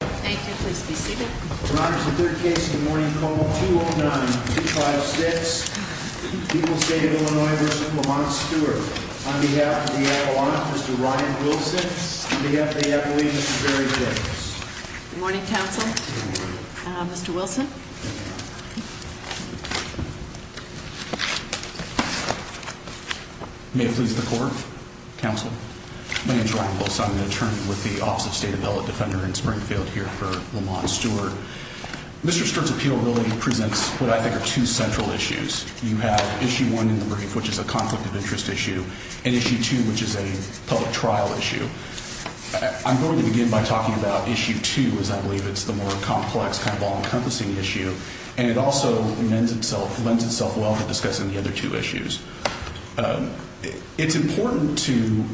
Thank you. Please be seated. In honor of the third case of the morning, code 209-256, People's State of Illinois v. Lamont Stewart. On behalf of the Appalachian, Mr. Ryan Wilson. On behalf of the Appalachian, Mr. Jerry Jacobs. Good morning, counsel. Mr. Wilson. May it please the court, counsel. My name is Ryan Wilson. I'm an attorney with the Office of State Development Defender in Springfield here for Lamont Stewart. Mr. Stewart's appeal really presents what I think are two central issues. You have Issue 1 in the brief, which is a conflict of interest issue. And Issue 2, which is a public trial issue. I'm going to begin by talking about Issue 2, as I believe it's the more complex kind of all-encompassing issue. And it also lends itself well to discussing the other two issues. It's important to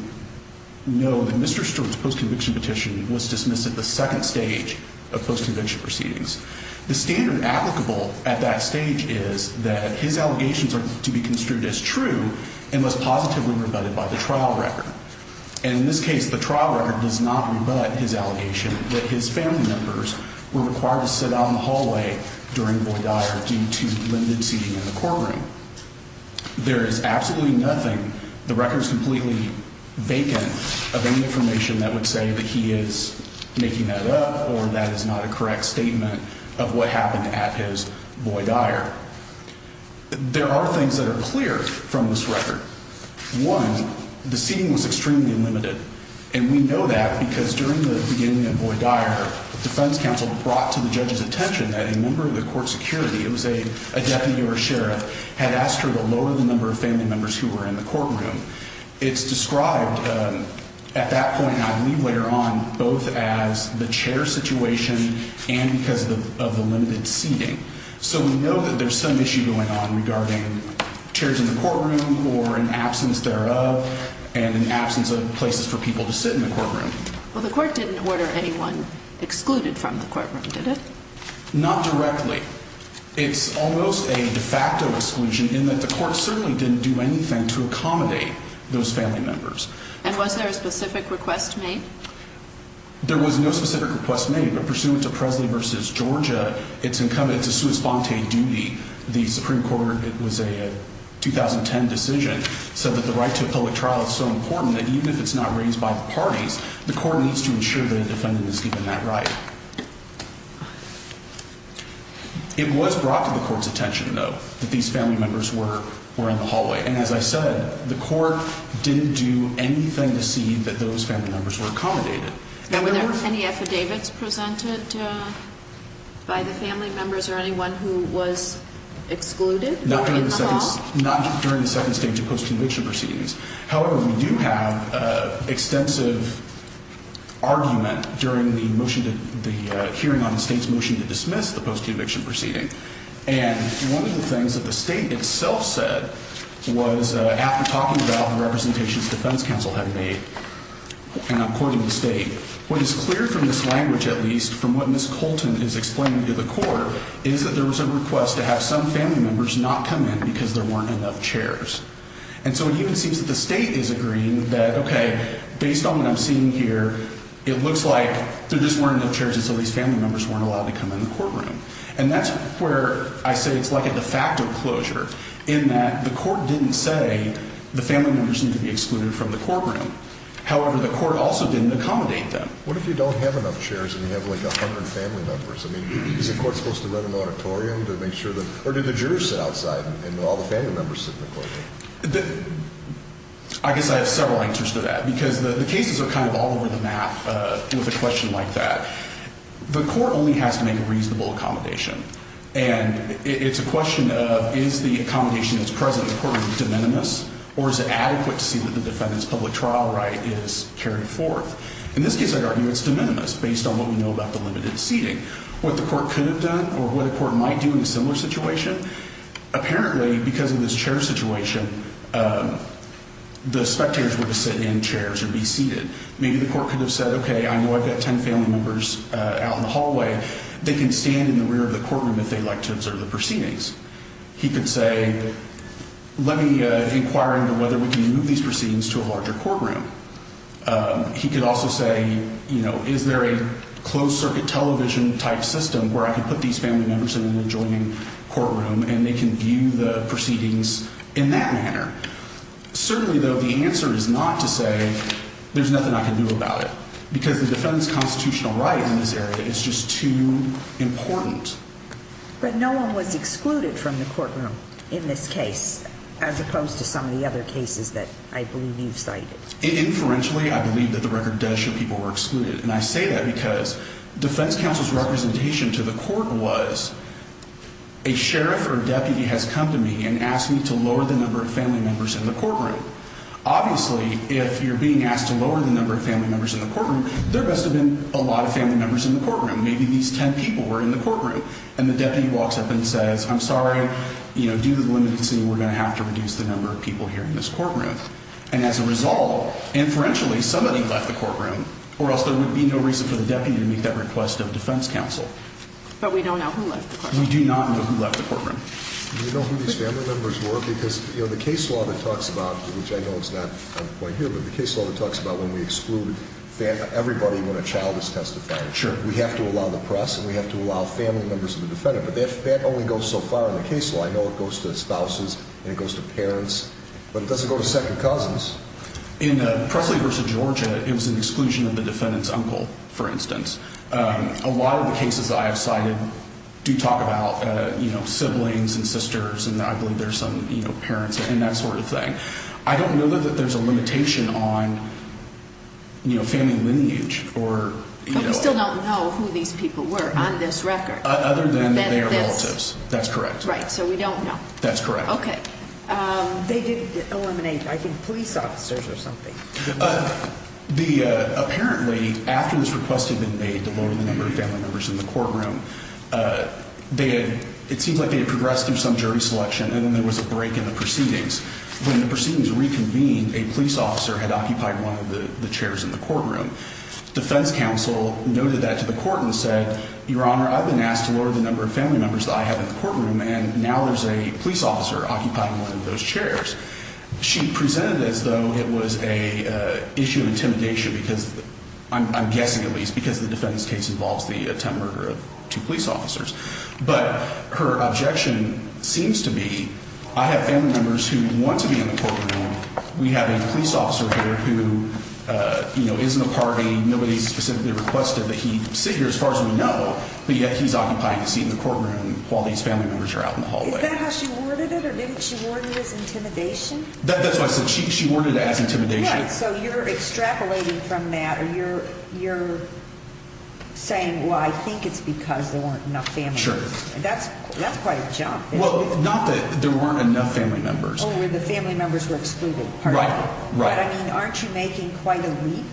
know that Mr. Stewart's post-conviction petition was dismissed at the second stage of post-conviction proceedings. The standard applicable at that stage is that his allegations are to be construed as true and was positively rebutted by the trial record. And in this case, the trial record does not rebut his allegation that his family members were required to sit out in the hallway during Boyd-Dyer due to limited seating in the courtroom. There is absolutely nothing. The record is completely vacant of any information that would say that he is making that up or that is not a correct statement of what happened at his Boyd-Dyer. There are things that are clear from this record. One, the seating was extremely limited. And we know that because during the beginning of Boyd-Dyer, the defense counsel brought to the judge's attention that a member of the court security, it was a deputy or a sheriff, had asked her to lower the number of family members who were in the courtroom. It's described at that point, I believe later on, both as the chair situation and because of the limited seating. So we know that there's some issue going on regarding chairs in the courtroom or an absence thereof and an absence of places for people to sit in the courtroom. Well, the court didn't order anyone excluded from the courtroom, did it? Not directly. It's almost a de facto exclusion in that the court certainly didn't do anything to accommodate those family members. And was there a specific request made? There was no specific request made, but pursuant to Presley v. Georgia, it's incumbent, it's a sua sponte duty. The Supreme Court, it was a 2010 decision, said that the right to a public trial is so important that even if it's not raised by the parties, the court needs to ensure that a defendant is given that right. It was brought to the court's attention, though, that these family members were in the hallway. And as I said, the court didn't do anything to see that those family members were accommodated. Now, were there any affidavits presented by the family members or anyone who was excluded in the hall? Not during the second stage of post-conviction proceedings. However, we do have extensive argument during the hearing on the state's motion to dismiss the post-conviction proceeding. And one of the things that the state itself said was, after talking about the representations the defense counsel had made, and according to the state, what is clear from this language at least, from what Ms. Colton is explaining to the court, is that there was a request to have some family members not come in because there weren't enough chairs. And so it even seems that the state is agreeing that, okay, based on what I'm seeing here, it looks like there just weren't enough chairs and so these family members weren't allowed to come in the courtroom. And that's where I say it's like a de facto closure in that the court didn't say the family members need to be excluded from the courtroom. However, the court also didn't accommodate them. What if you don't have enough chairs and you have like 100 family members? I mean, is the court supposed to run an auditorium to make sure that – or do the jurors sit outside and all the family members sit in the courtroom? I guess I have several answers to that because the cases are kind of all over the map with a question like that. The court only has to make a reasonable accommodation. And it's a question of is the accommodation that's present in the courtroom de minimis or is it adequate to see that the defendant's public trial right is carried forth? In this case, I'd argue it's de minimis based on what we know about the limited seating. What the court could have done or what the court might do in a similar situation, apparently because of this chair situation, the spectators were to sit in chairs and be seated. Maybe the court could have said, okay, I know I've got 10 family members out in the hallway. They can stand in the rear of the courtroom if they'd like to observe the proceedings. He could say, let me inquire into whether we can move these proceedings to a larger courtroom. He could also say, you know, is there a closed-circuit television-type system where I can put these family members in an adjoining courtroom and they can view the proceedings in that manner? Certainly, though, the answer is not to say there's nothing I can do about it because the defendant's constitutional right in this area is just too important. But no one was excluded from the courtroom in this case as opposed to some of the other cases that I believe you've cited. Inferentially, I believe that the record does show people were excluded. And I say that because defense counsel's representation to the court was a sheriff or a deputy has come to me and asked me to lower the number of family members in the courtroom. Obviously, if you're being asked to lower the number of family members in the courtroom, there must have been a lot of family members in the courtroom. Maybe these 10 people were in the courtroom. And the deputy walks up and says, I'm sorry, you know, due to the limited scene, we're going to have to reduce the number of people here in this courtroom. And as a result, inferentially, somebody left the courtroom or else there would be no reason for the deputy to make that request of defense counsel. But we don't know who left the courtroom. We do not know who left the courtroom. Do you know who these family members were? Because, you know, the case law that talks about, which I know is not on the point here, but the case law that talks about when we exclude everybody when a child is testified. Sure. We have to allow the press and we have to allow family members of the defendant. But that only goes so far in the case law. I know it goes to spouses and it goes to parents, but it doesn't go to second cousins. In Presley v. Georgia, it was an exclusion of the defendant's uncle, for instance. A lot of the cases that I have cited do talk about, you know, siblings and sisters and I believe there's some, you know, parents and that sort of thing. I don't know that there's a limitation on, you know, family lineage or, you know. But we still don't know who these people were on this record. Other than their relatives. That's correct. Right. So we don't know. That's correct. Okay. They did eliminate, I think, police officers or something. Apparently, after this request had been made to lower the number of family members in the courtroom, it seems like they had progressed through some jury selection and then there was a break in the proceedings. When the proceedings reconvened, a police officer had occupied one of the chairs in the courtroom. Defense counsel noted that to the court and said, Your Honor, I've been asked to lower the number of family members that I have in the courtroom and now there's a police officer occupying one of those chairs. She presented it as though it was an issue of intimidation because, I'm guessing at least, because the defense case involves the attempted murder of two police officers. But her objection seems to be, I have family members who want to be in the courtroom. We have a police officer here who, you know, isn't a party. Nobody specifically requested that he sit here, as far as we know, but yet he's occupying a seat in the courtroom while these family members are out in the hallway. Is that how she worded it, or did she word it as intimidation? That's what I said. She worded it as intimidation. Yeah, so you're extrapolating from that. You're saying, well, I think it's because there weren't enough family members. Sure. That's quite a jump. Well, not that there weren't enough family members. Oh, where the family members were excluded. Right, right. But, I mean, aren't you making quite a leap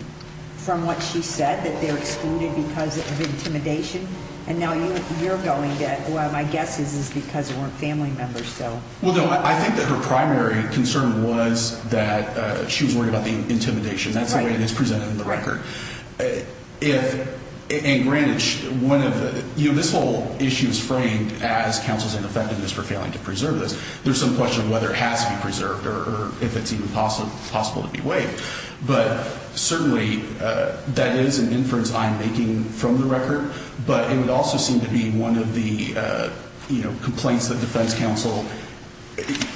from what she said, that they're excluded because of intimidation? And now you're going to, well, my guess is it's because there weren't family members still. Well, no, I think that her primary concern was that she was worried about the intimidation. That's the way it is presented in the record. If, and granted, one of the, you know, this whole issue is framed as counsel's ineffectiveness for failing to preserve this. There's some question of whether it has to be preserved or if it's even possible to be waived. But, certainly, that is an inference I'm making from the record. But it would also seem to be one of the, you know, complaints that defense counsel.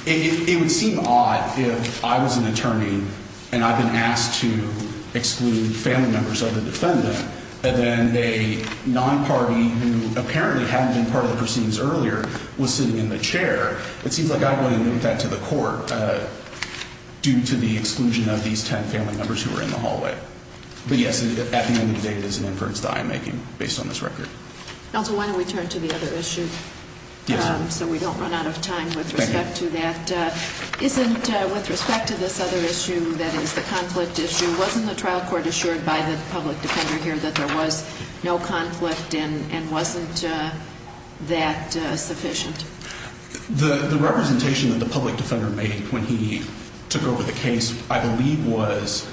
It would seem odd if I was an attorney and I've been asked to exclude family members of the defendant, and then a non-party who apparently hadn't been part of the proceedings earlier was sitting in the chair. It seems like I wouldn't link that to the court due to the exclusion of these ten family members who were in the hallway. But, yes, at the end of the day, it is an inference that I'm making based on this record. Counsel, why don't we turn to the other issue? Yes. So we don't run out of time with respect to that. Thank you. Isn't, with respect to this other issue that is the conflict issue, wasn't the trial court assured by the public defender here that there was no conflict and wasn't that sufficient? The representation that the public defender made when he took over the case, I believe, was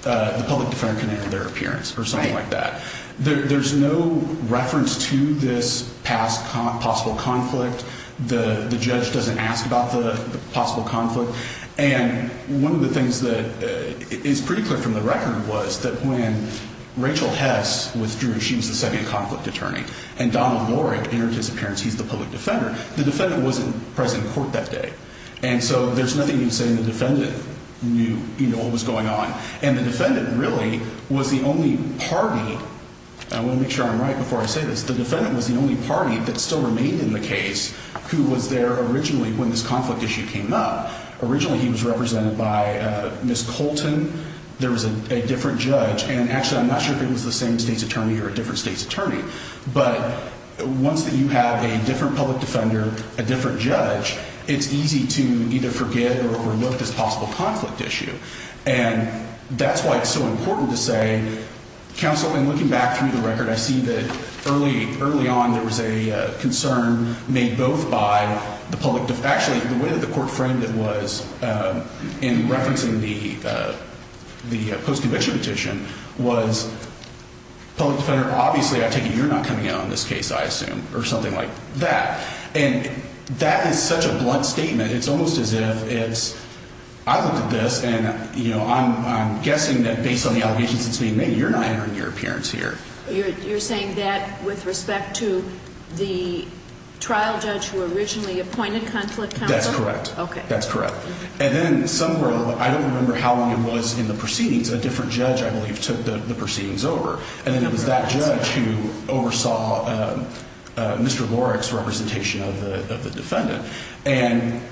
the public defender can enter their appearance or something like that. There's no reference to this past possible conflict. The judge doesn't ask about the possible conflict. And one of the things that is pretty clear from the record was that when Rachel Hess withdrew, she was the second conflict attorney. And Donald Lorig entered his appearance. He's the public defender. The defendant wasn't present in court that day. And so there's nothing you can say. And the defendant knew what was going on. And the defendant really was the only party, and I want to make sure I'm right before I say this, the defendant was the only party that still remained in the case who was there originally when this conflict issue came up. Originally he was represented by Ms. Colton. There was a different judge. And actually I'm not sure if it was the same state's attorney or a different state's attorney. But once you have a different public defender, a different judge, it's easy to either forget or overlook this possible conflict issue. And that's why it's so important to say, Counsel, in looking back through the record, I see that early on there was a concern made both by the public defender, actually the way that the court framed it was in referencing the post-conviction petition, was public defender, obviously I take it you're not coming out on this case, I assume, or something like that. And that is such a blunt statement. It's almost as if it's, I looked at this, and I'm guessing that based on the allegations it's made, maybe you're not entering your appearance here. You're saying that with respect to the trial judge who originally appointed Conflict Counsel? That's correct. Okay. That's correct. And then somewhere, I don't remember how long it was in the proceedings, a different judge I believe took the proceedings over. And it was that judge who oversaw Mr. Lorick's representation of the defendant. And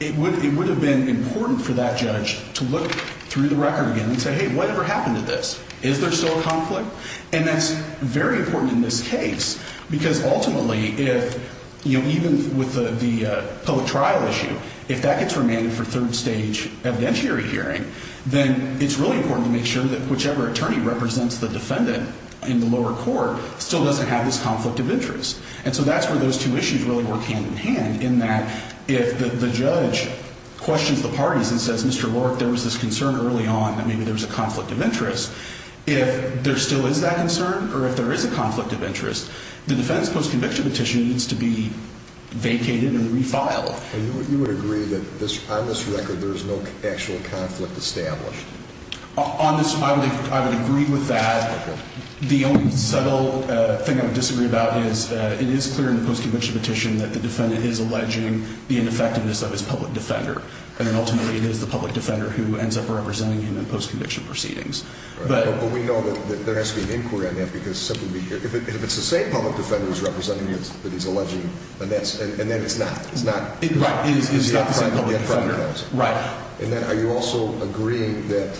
it would have been important for that judge to look through the record again and say, hey, whatever happened to this? Is there still a conflict? And that's very important in this case because ultimately if, you know, even with the public trial issue, if that gets remanded for third stage evidentiary hearing, then it's really important to make sure that whichever attorney represents the defendant in the lower court still doesn't have this conflict of interest. And so that's where those two issues really work hand in hand in that if the judge questions the parties and says, Mr. Lorick, there was this concern early on that maybe there was a conflict of interest, if there still is that concern or if there is a conflict of interest, the defendant's post-conviction petition needs to be vacated and refiled. And you would agree that on this record there is no actual conflict established? On this, I would agree with that. The only subtle thing I would disagree about is it is clear in the post-conviction petition that the defendant is alleging the ineffectiveness of his public defender, and then ultimately it is the public defender who ends up representing him in post-conviction proceedings. But we know that there has to be an inquiry on that because simply if it's the same public defender who's representing him that he's alleging, and then it's not. Right, it's not the same public defender. And then are you also agreeing that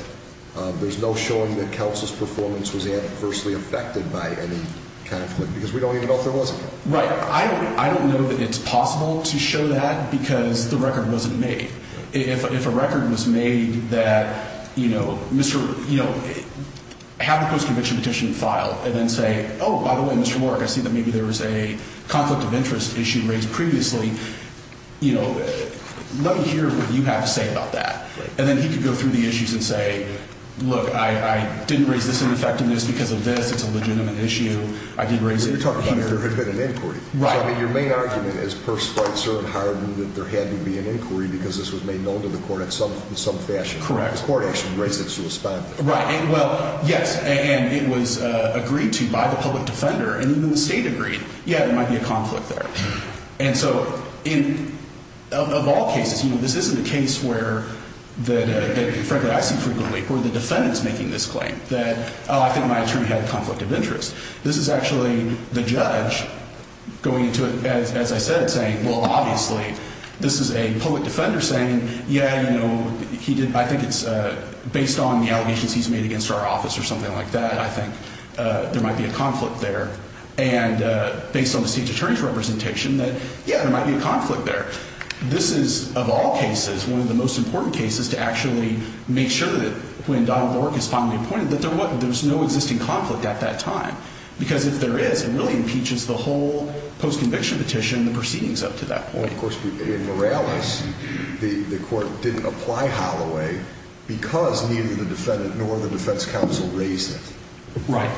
there's no showing that Kelce's performance was adversely affected by any conflict? Because we don't even know if there was a conflict. Right. I don't know that it's possible to show that because the record wasn't made. If a record was made that, you know, have the post-conviction petition filed and then say, oh, by the way, Mr. Lorak, I see that maybe there was a conflict of interest issue raised previously, you know, let me hear what you have to say about that. And then he could go through the issues and say, look, I didn't raise this ineffectiveness because of this. It's a legitimate issue. I did raise it. You're talking about if there had been an inquiry. Right. So, I mean, your main argument is per sprite, cert, and harbor that there had to be an inquiry because this was made known to the court in some fashion. Correct. The court actually raised it to a standard. Right. Well, yes, and it was agreed to by the public defender, and even the state agreed, yeah, there might be a conflict there. And so in – of all cases, you know, this isn't a case where the – frankly, I see frequently where the defendant's making this claim that, oh, I think my attorney had a conflict of interest. This is actually the judge going into it, as I said, saying, well, obviously, this is a public defender saying, yeah, you know, he did – I think it's based on the allegations he's made against our office or something like that. I think there might be a conflict there. And based on the state attorney's representation that, yeah, there might be a conflict there. This is, of all cases, one of the most important cases to actually make sure that when Donald Lork is finally appointed, that there's no existing conflict at that time. Because if there is, it really impeaches the whole post-conviction petition and the proceedings up to that point. Well, of course, in Morales, the court didn't apply Holloway because neither the defendant nor the defense counsel raised it. Right.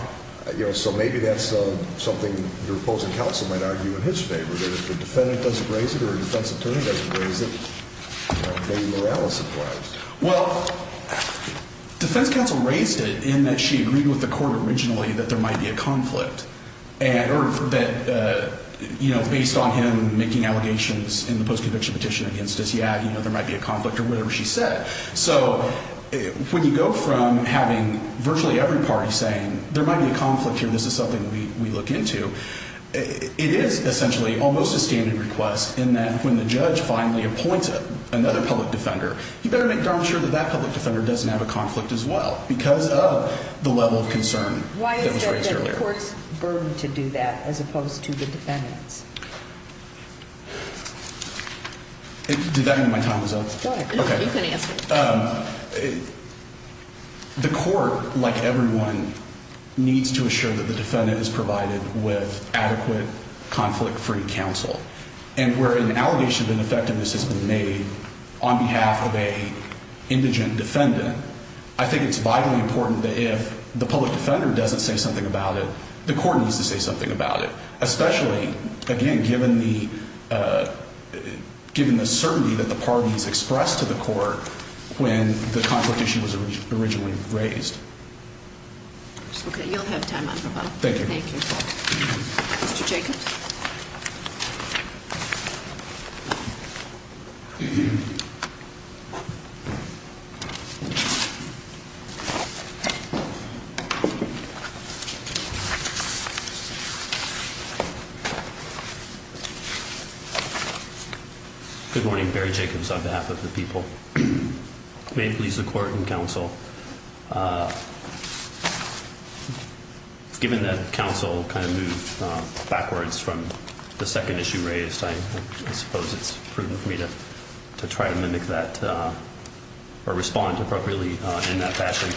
So maybe that's something the opposing counsel might argue in his favor, that if the defendant doesn't raise it or the defense attorney doesn't raise it, maybe Morales applies. Well, defense counsel raised it in that she agreed with the court originally that there might be a conflict. And – or that, you know, based on him making allegations in the post-conviction petition against us, yeah, you know, there might be a conflict or whatever she said. So when you go from having virtually every party saying there might be a conflict here, this is something we look into, it is essentially almost a standard request in that when the judge finally appoints another public defender, you better make darn sure that that public defender doesn't have a conflict as well because of the level of concern that was raised earlier. Why is there a court's burden to do that as opposed to the defendant's? Did that mean my time was up? Go ahead. Okay. You can answer. The court, like everyone, needs to assure that the defendant is provided with adequate conflict-free counsel. And where an allegation of ineffectiveness has been made on behalf of an indigent defendant, I think it's vitally important that if the public defender doesn't say something about it, the court needs to say something about it, especially, again, given the certainty that the parties expressed to the court when the conflict issue was originally raised. Okay. You'll have time on your file. Thank you. Thank you. Mr. Jacobs? Good morning. Barry Jacobs on behalf of the people. May it please the court and counsel, given that counsel kind of moved backwards from the second issue raised, I suppose it's prudent for me to try to mimic that or respond appropriately in that fashion.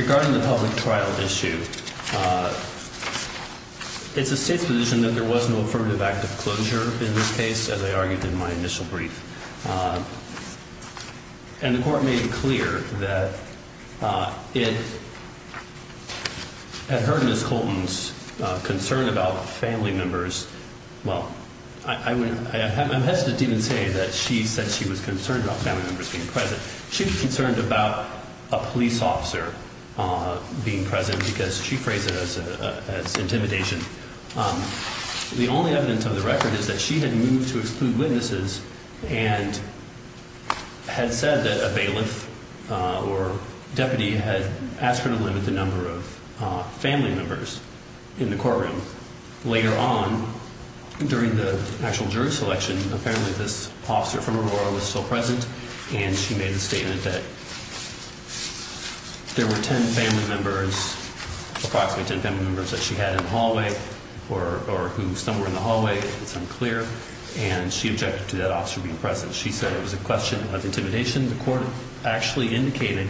Regarding the public trial issue, it's the state's position that there was no affirmative act of closure in this case, as I argued in my initial brief. And the court made it clear that it had hurt Ms. Colton's concern about family members. Well, I'm hesitant to even say that she said she was concerned about family members being present. She was concerned about a police officer being present because she phrased it as intimidation. The only evidence of the record is that she had moved to exclude witnesses and had said that a bailiff or deputy had asked her to limit the number of family members in the courtroom. Later on, during the actual jury selection, apparently this officer from Aurora was still present, and she made the statement that there were 10 family members, approximately 10 family members, that she had in the hallway or who some were in the hallway. It's unclear. And she objected to that officer being present. She said it was a question of intimidation. The court actually indicated.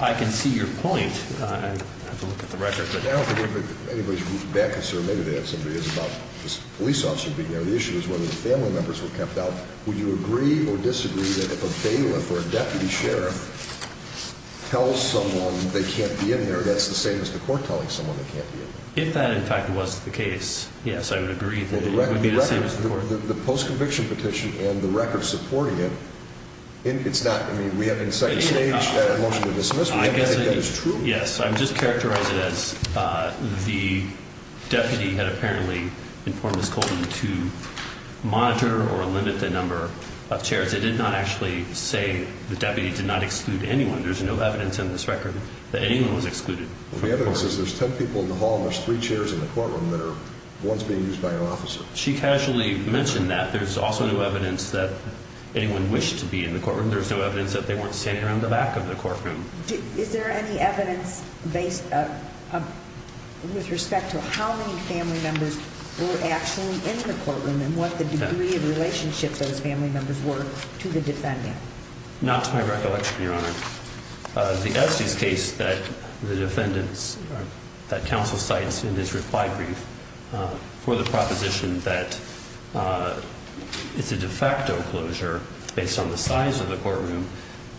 I can see your point. I have to look at the record. I don't think anybody's in bad concern. Maybe they have some ideas about this police officer being there. The issue is whether the family members were kept out. Would you agree or disagree that if a bailiff or a deputy sheriff tells someone they can't be in there, that's the same as the court telling someone they can't be in there? If that, in fact, was the case, yes, I would agree that it would be the same as the court. The post-conviction petition and the record supporting it, it's not. We have in second stage a motion to dismiss. I guess that is true. Yes. I'm just characterizing it as the deputy had apparently informed Ms. Colton to monitor or limit the number of chairs. It did not actually say the deputy did not exclude anyone. There's no evidence in this record that anyone was excluded. The evidence is there's 10 people in the hall and there's three chairs in the courtroom that are once being used by an officer. She casually mentioned that. There's also no evidence that anyone wished to be in the courtroom. There's no evidence that they weren't standing around the back of the courtroom. Is there any evidence based with respect to how many family members were actually in the courtroom and what the degree of relationship those family members were to the defendant? Not to my recollection, Your Honor. The Estes case that the defendants, that counsel cites in this reply brief for the proposition that it's a de facto closure based on the size of the courtroom.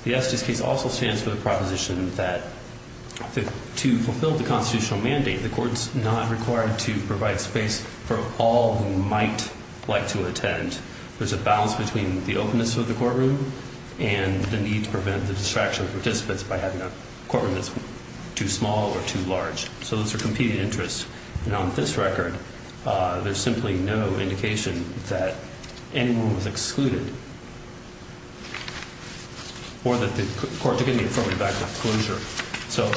The Estes case also stands for the proposition that to fulfill the constitutional mandate, the court's not required to provide space for all who might like to attend. There's a balance between the openness of the courtroom and the need to prevent the distraction of participants by having a courtroom that's too small or too large. So those are competing interests. And on this record, there's simply no indication that anyone was excluded or that the court took any affirmative act of closure. So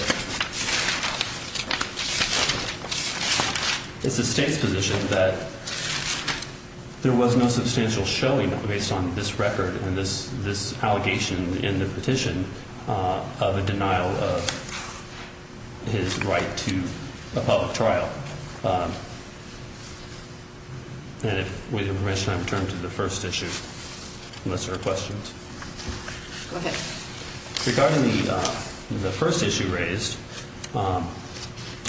it's the state's position that there was no substantial showing based on this record and this allegation in the petition of a denial of his right to a public trial. And if we have time to turn to the first issue, unless there are questions. Go ahead. Regarding the first issue raised,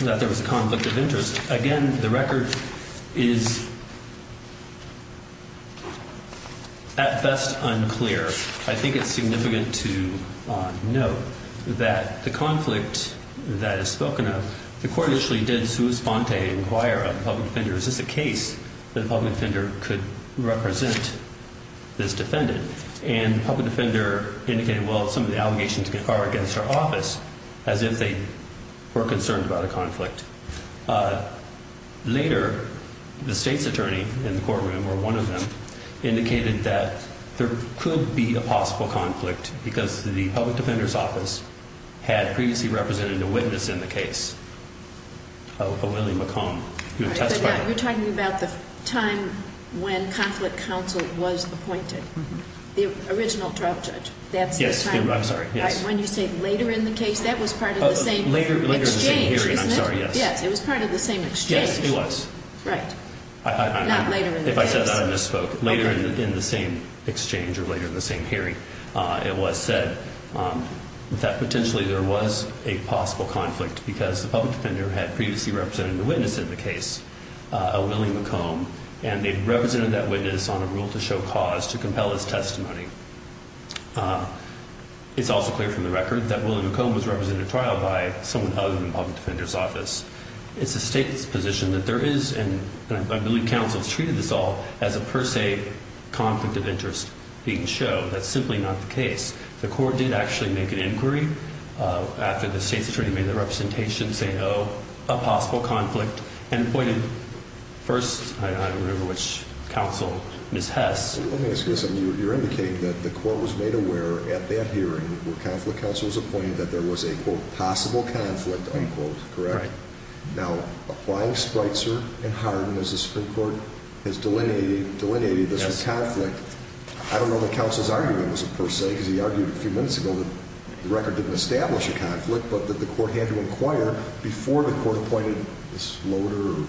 that there was a conflict of interest, again, the record is at best unclear. I think it's significant to note that the conflict that is spoken of, the court actually did sua sponte inquire of the public defender, is this a case that a public defender could represent this defendant? And the public defender indicated, well, some of the allegations are against our office, as if they were concerned about a conflict. Later, the state's attorney in the courtroom, or one of them, indicated that there could be a possible conflict because the public defender's office had previously represented a witness in the case, a Willie McComb, who testified. You're talking about the time when Conflict Counsel was appointed, the original trial judge. Yes, I'm sorry. When you say later in the case, that was part of the same exchange, isn't it? Later in the same hearing, I'm sorry, yes. Yes, it was part of the same exchange. Yes, it was. Right. Not later in the case. If I said that, I misspoke. Later in the same exchange or later in the same hearing, it was said that potentially there was a possible conflict because the public defender had previously represented a witness in the case, a Willie McComb, and they represented that witness on a rule to show cause to compel his testimony. It's also clear from the record that Willie McComb was represented at trial by someone other than the public defender's office. It's the state's position that there is, and I believe counsel has treated this all, as a per se conflict of interest being shown. That's simply not the case. The court did actually make an inquiry after the state's attorney made the representation, saying, oh, a possible conflict, and appointed first, I don't remember which counsel, Ms. Hess. Let me ask you something. You're indicating that the court was made aware at that hearing where conflict counsel was appointed that there was a, quote, possible conflict, unquote, correct? Right. Now, applying Spreitzer and Hardin as the Supreme Court has delineated this as conflict, I don't know that counsel's argument was a per se because he argued a few minutes ago that the record didn't establish a conflict but that the court had to inquire before the court appointed this loader.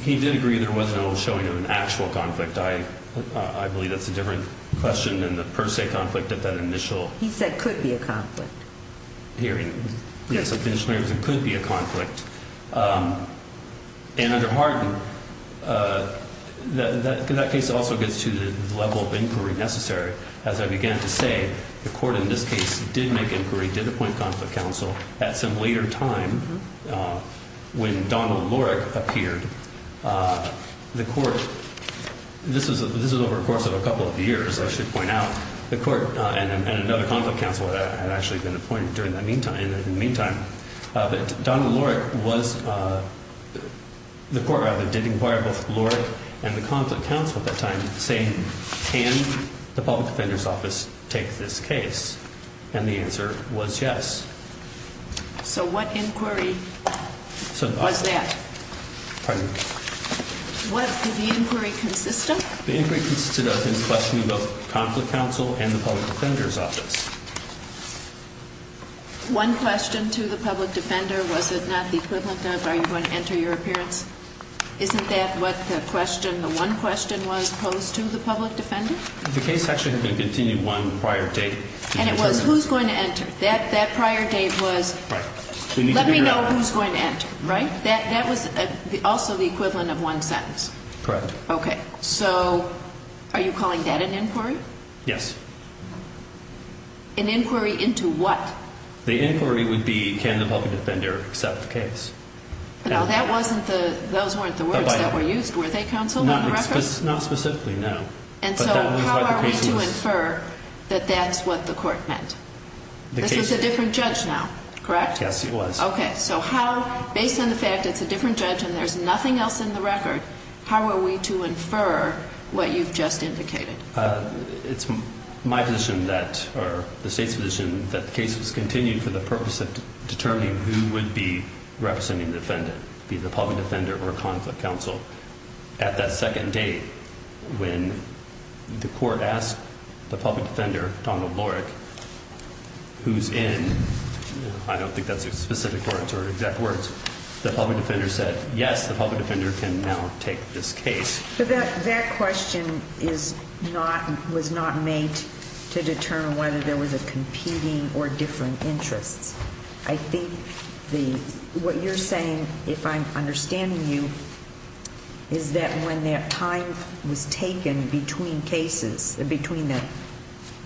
He did agree there was no showing of an actual conflict. I believe that's a different question than the per se conflict at that initial hearing. He said could be a conflict. Yes, at the initial hearing, it could be a conflict. And under Hardin, that case also gets to the level of inquiry necessary. As I began to say, the court in this case did make inquiry, did appoint conflict counsel. At some later time, when Donald Lorik appeared, the court, this was over the course of a couple of years, I should point out, the court and another conflict counsel had actually been appointed in the meantime. But Donald Lorik was, the court rather did inquire both Lorik and the conflict counsel at that time saying, can the public defender's office take this case? And the answer was yes. So what inquiry was that? Pardon? What did the inquiry consist of? The inquiry consisted of him questioning both the conflict counsel and the public defender's office. One question to the public defender, was it not the equivalent of are you going to enter your appearance? Isn't that what the question, the one question was posed to the public defender? The case actually had been continued one prior date. And it was who's going to enter? That prior date was let me know who's going to enter, right? That was also the equivalent of one sentence. Correct. Okay. So are you calling that an inquiry? Yes. An inquiry into what? The inquiry would be can the public defender accept the case? Now, that wasn't the, those weren't the words that were used. Were they counsel on the record? Not specifically, no. And so how are we to infer that that's what the court meant? This is a different judge now, correct? Yes, it was. Okay. So how, based on the fact it's a different judge and there's nothing else in the record, how are we to infer what you've just indicated? It's my position that, or the state's position, that the case was continued for the purpose of determining who would be representing the defendant, be the public defender or a conflict counsel. At that second date, when the court asked the public defender, Donald Lorick, who's in, I don't think that's a specific words or exact words, the public defender said, yes, the public defender can now take this case. But that question is not, was not made to determine whether there was a competing or different interest. I think what you're saying, if I'm understanding you, is that when that time was taken between cases, between the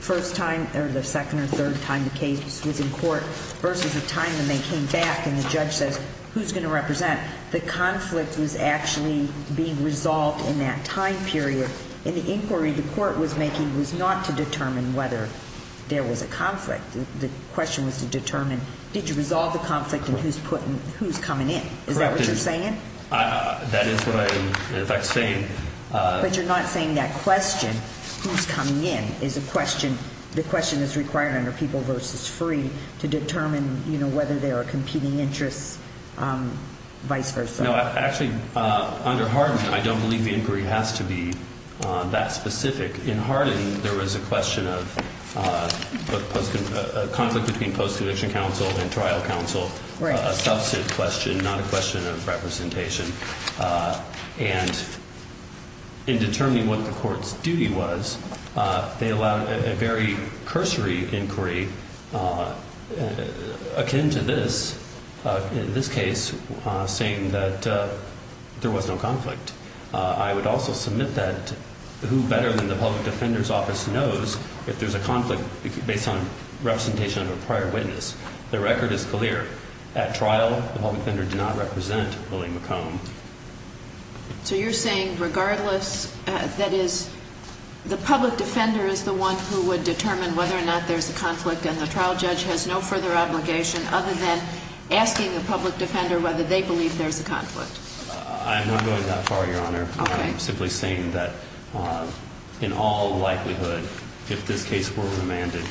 first time or the second or third time the case was in court versus the time when they came back and the judge says who's going to represent, the conflict was actually being resolved in that time period. And the inquiry the court was making was not to determine whether there was a conflict. The question was to determine, did you resolve the conflict and who's coming in? Is that what you're saying? That is what I am, in fact, saying. But you're not saying that question, who's coming in, is a question, the question that's required under people versus free, to determine whether there are competing interests, vice versa. No, actually, under Hardin, I don't believe the inquiry has to be that specific. In Hardin, there was a question of a conflict between post-conviction counsel and trial counsel, a subset question, not a question of representation. And in determining what the court's duty was, they allowed a very cursory inquiry akin to this, in this case, saying that there was no conflict. I would also submit that who better than the public defender's office knows if there's a conflict based on representation of a prior witness. The record is clear. At trial, the public defender did not represent Willie McComb. So you're saying regardless, that is, the public defender is the one who would determine whether or not there's a conflict and the trial judge has no further obligation other than asking the public defender whether they believe there's a conflict. I'm not going that far, Your Honor. Okay. I'm simply saying that in all likelihood, if this case were remanded,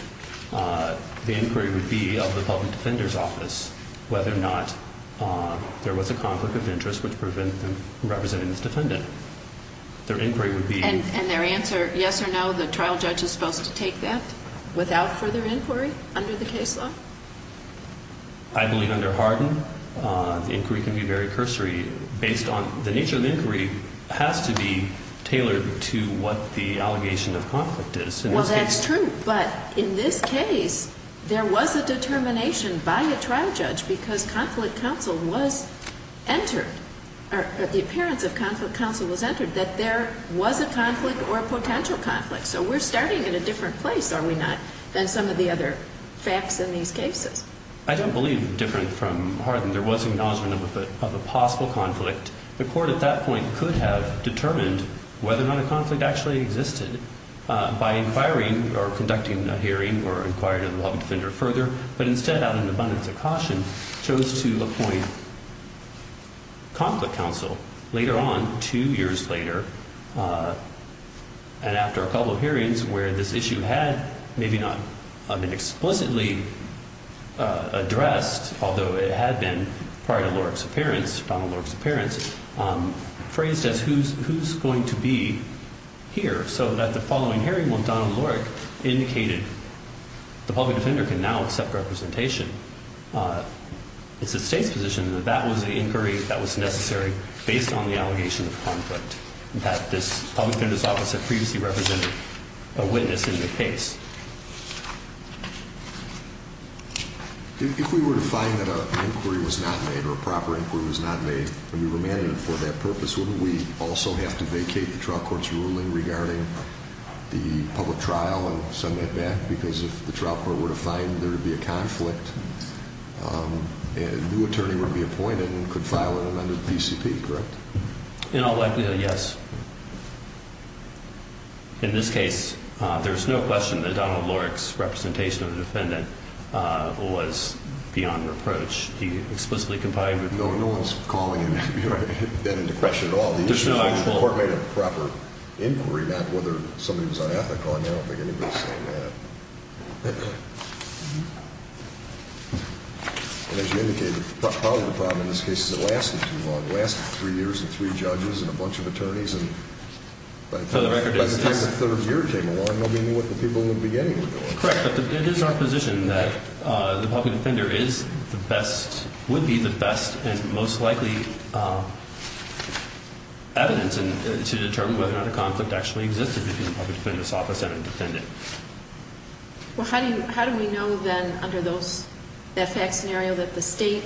the inquiry would be of the public defender's office whether or not there was a conflict of interest which represented this defendant. Their inquiry would be- And their answer, yes or no, the trial judge is supposed to take that without further inquiry under the case law? I believe under Harden, the inquiry can be very cursory. Based on the nature of the inquiry, it has to be tailored to what the allegation of conflict is. Well, that's true. But in this case, there was a determination by a trial judge because conflict counsel was entered, or the appearance of conflict counsel was entered, that there was a conflict or a potential conflict. So we're starting in a different place, are we not, than some of the other facts in these cases? I don't believe different from Harden. There was acknowledgement of a possible conflict. The court at that point could have determined whether or not a conflict actually existed by inquiring or conducting a hearing or inquiring a law defender further, but instead out of an abundance of caution, chose to appoint conflict counsel. Later on, two years later, and after a couple of hearings where this issue had maybe not been explicitly addressed, although it had been prior to Lorick's appearance, Donald Lorick's appearance, phrased as who's going to be here? So at the following hearing, Donald Lorick indicated the public defender can now accept representation. It's the state's position that that was an inquiry that was necessary based on the allegation of conflict, that this public defender's office had previously represented a witness in the case. If we were to find that an inquiry was not made, or a proper inquiry was not made, and we remanded it for that purpose, wouldn't we also have to vacate the trial court's ruling regarding the public trial and send that back because if the trial court were to find there would be a conflict, a new attorney would be appointed and could file an amended PCP, correct? In all likelihood, yes. In this case, there's no question that Donald Lorick's representation of the defendant was beyond reproach. He explicitly complied with the law. No one's calling that into question at all. The court made a proper inquiry, not whether somebody was unethical. I don't think anybody's saying that. And as you indicated, part of the problem in this case is it lasted too long. It lasted three years and three judges and a bunch of attorneys, and by the time the third year came along, nobody knew what the people in the beginning were doing. Correct, but it is our position that the public defender would be the best and most likely evidence to determine whether or not a conflict actually existed between the public defender's office and a defendant. Well, how do we know then under that fact scenario that the state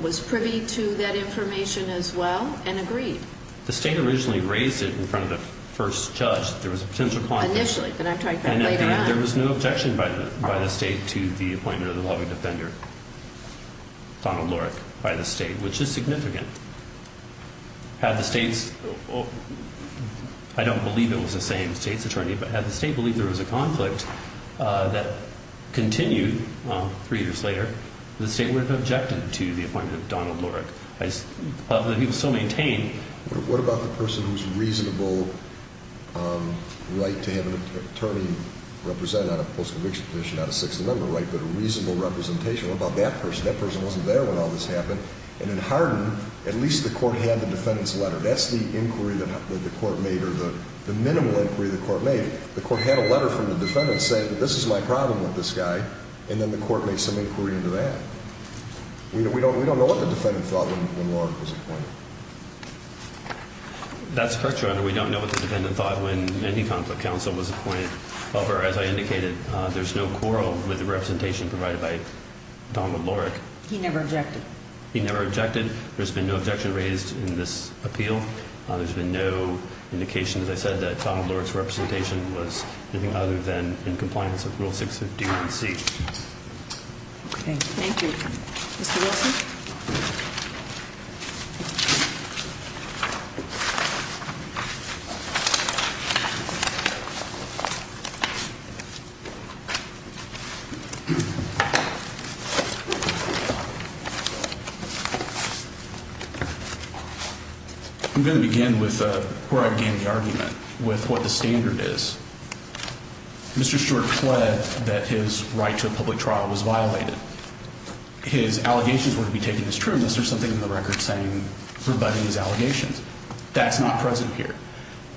was privy to that information as well and agreed? The state originally raised it in front of the first judge that there was a potential conflict. Initially, but I'm talking about later on. There was no objection by the state to the appointment of the public defender, Donald Lorick, by the state, which is significant. Had the state's – I don't believe it was the same state's attorney, but had the state believed there was a conflict that continued three years later, the state would have objected to the appointment of Donald Lorick. But he was still maintained. What about the person whose reasonable right to have an attorney represent on a post-conviction petition, not a 6th Amendment right, but a reasonable representation? What about that person? That person wasn't there when all this happened. And in Hardin, at least the court had the defendant's letter. That's the inquiry that the court made, or the minimal inquiry the court made. The court had a letter from the defendant saying that this is my problem with this guy, and then the court made some inquiry into that. We don't know what the defendant thought when Lorick was appointed. That's correct, Your Honor. We don't know what the defendant thought when any conflict counsel was appointed. However, as I indicated, there's no quarrel with the representation provided by Donald Lorick. He never objected. He never objected. There's been no objection raised in this appeal. There's been no indication, as I said, that Donald Lorick's representation was anything other than in compliance with Rule 651C. Okay. Thank you. Mr. Wilson? Thank you. I'm going to begin where I began the argument with what the standard is. Mr. Short pled that his right to a public trial was violated. His allegations were to be taken as trueness. There's something in the record saying rebutting his allegations. That's not present here.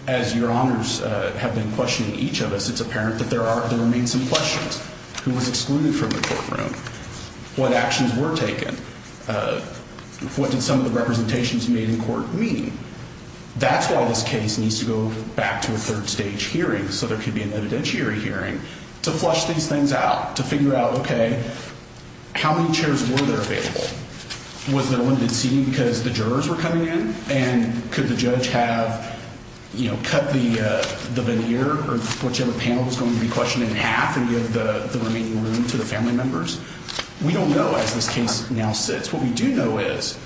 As Your Honors have been questioning each of us, it's apparent that there remain some questions. Who was excluded from the courtroom? What actions were taken? What did some of the representations made in court mean? That's why this case needs to go back to a third stage hearing, so there could be an evidentiary hearing, to flush these things out, to figure out, okay, how many chairs were there available? Was there a limited seating because the jurors were coming in? And could the judge have, you know, cut the veneer or whichever panel was going to be questioned in half and give the remaining room to the family members? We don't know as this case now sits. What we do know is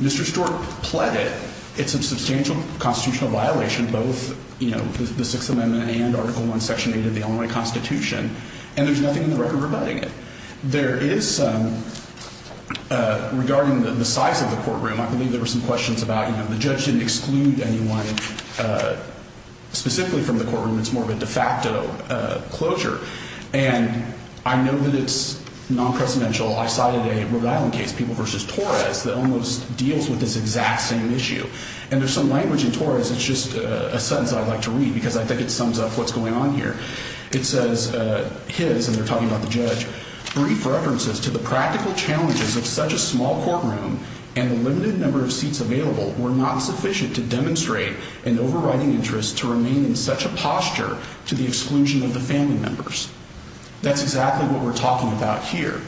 Mr. Short pled it. It's a substantial constitutional violation, both, you know, the Sixth Amendment and Article I, Section 8 of the Illinois Constitution, and there's nothing in the record rebutting it. There is some regarding the size of the courtroom. I believe there were some questions about, you know, the judge didn't exclude anyone specifically from the courtroom. It's more of a de facto closure. And I know that it's non-presidential. I cited a Rhode Island case, People v. Torres, that almost deals with this exact same issue. And there's some language in Torres that's just a sentence I'd like to read because I think it sums up what's going on here. It says, his, and they're talking about the judge, brief references to the practical challenges of such a small courtroom and the limited number of seats available were not sufficient to demonstrate an overriding interest to remain in such a posture to the exclusion of the family members. That's exactly what we're talking about here.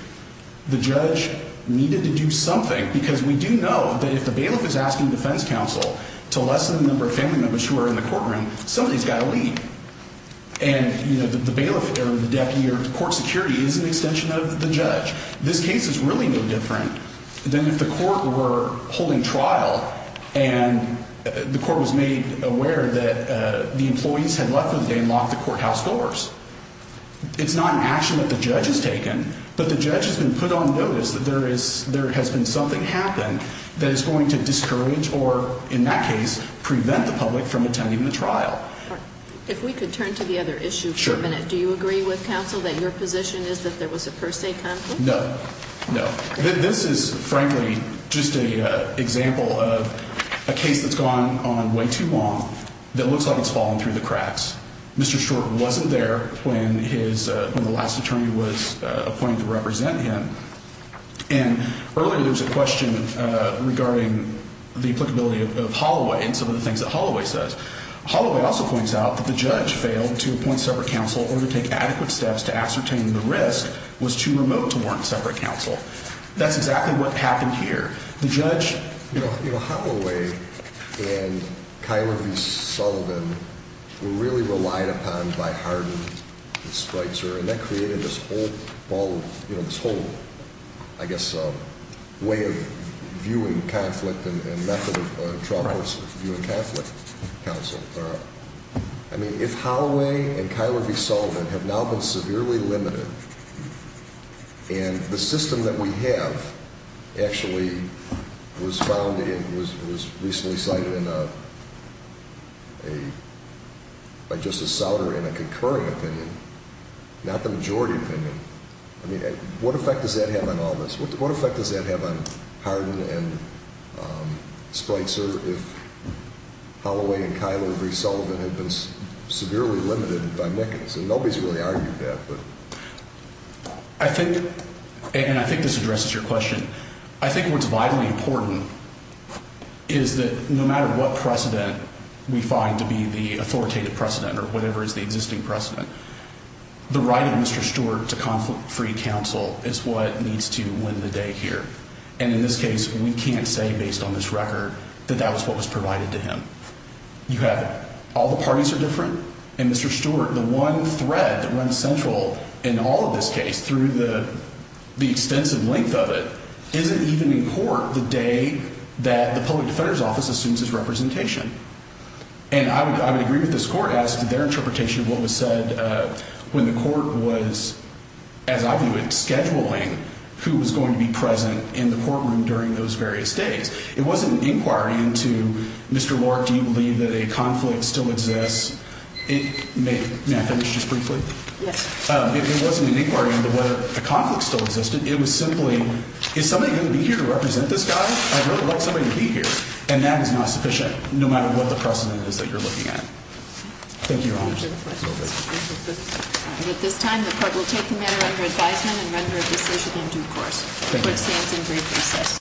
The judge needed to do something because we do know that if the bailiff is asking defense counsel to lessen the number of family members who are in the courtroom, somebody's got to lead. And, you know, the bailiff or the deputy or court security is an extension of the judge. This case is really no different than if the court were holding trial and the court was made aware that the employees had left for the day and locked the courthouse doors. It's not an action that the judge has taken, but the judge has been put on notice that there has been something happened that is going to discourage or, in that case, prevent the public from attending the trial. If we could turn to the other issue for a minute. Sure. Do you agree with counsel that your position is that there was a per se conflict? No, no. This is, frankly, just an example of a case that's gone on way too long that looks like it's fallen through the cracks. Mr. Short wasn't there when the last attorney was appointed to represent him. And earlier there was a question regarding the applicability of Holloway and some of the things that Holloway says. Holloway also points out that the judge failed to appoint separate counsel or to take adequate steps to ascertain the risk was too remote to warrant separate counsel. That's exactly what happened here. The judge— You know, Holloway and Kyler v. Sullivan were really relied upon by Hardin and Streitzer, and that created this whole, you know, this whole, I guess, way of viewing conflict and method of troubles, viewing conflict, counsel. I mean, if Holloway and Kyler v. Sullivan have now been severely limited and the system that we have actually was recently cited by Justice Souter in a concurring opinion, not the majority opinion, I mean, what effect does that have on all this? What effect does that have on Hardin and Streitzer if Holloway and Kyler v. Sullivan had been severely limited by Nickens? And nobody's really argued that, but— I think—and I think this addresses your question. I think what's vitally important is that no matter what precedent we find to be the authoritative precedent or whatever is the existing precedent, the right of Mr. Stewart to conflict-free counsel is what needs to win the day here. And in this case, we can't say based on this record that that was what was provided to him. You have—all the parties are different, and Mr. Stewart, the one thread that runs central in all of this case through the extensive length of it, isn't even in court the day that the Public Defender's Office assumes his representation. And I would agree with this court as to their interpretation of what was said when the court was, as I view it, scheduling who was going to be present in the courtroom during those various days. It wasn't an inquiry into, Mr. Lark, do you believe that a conflict still exists? May I finish just briefly? Yes. It wasn't an inquiry into whether a conflict still existed. It was simply, is somebody going to be here to represent this guy? I'd really like somebody to be here. And that is not sufficient, no matter what the precedent is that you're looking at. Thank you, Your Honor. At this time, the court will take the matter under advisement and render a decision in due course. The court stands in brief recess.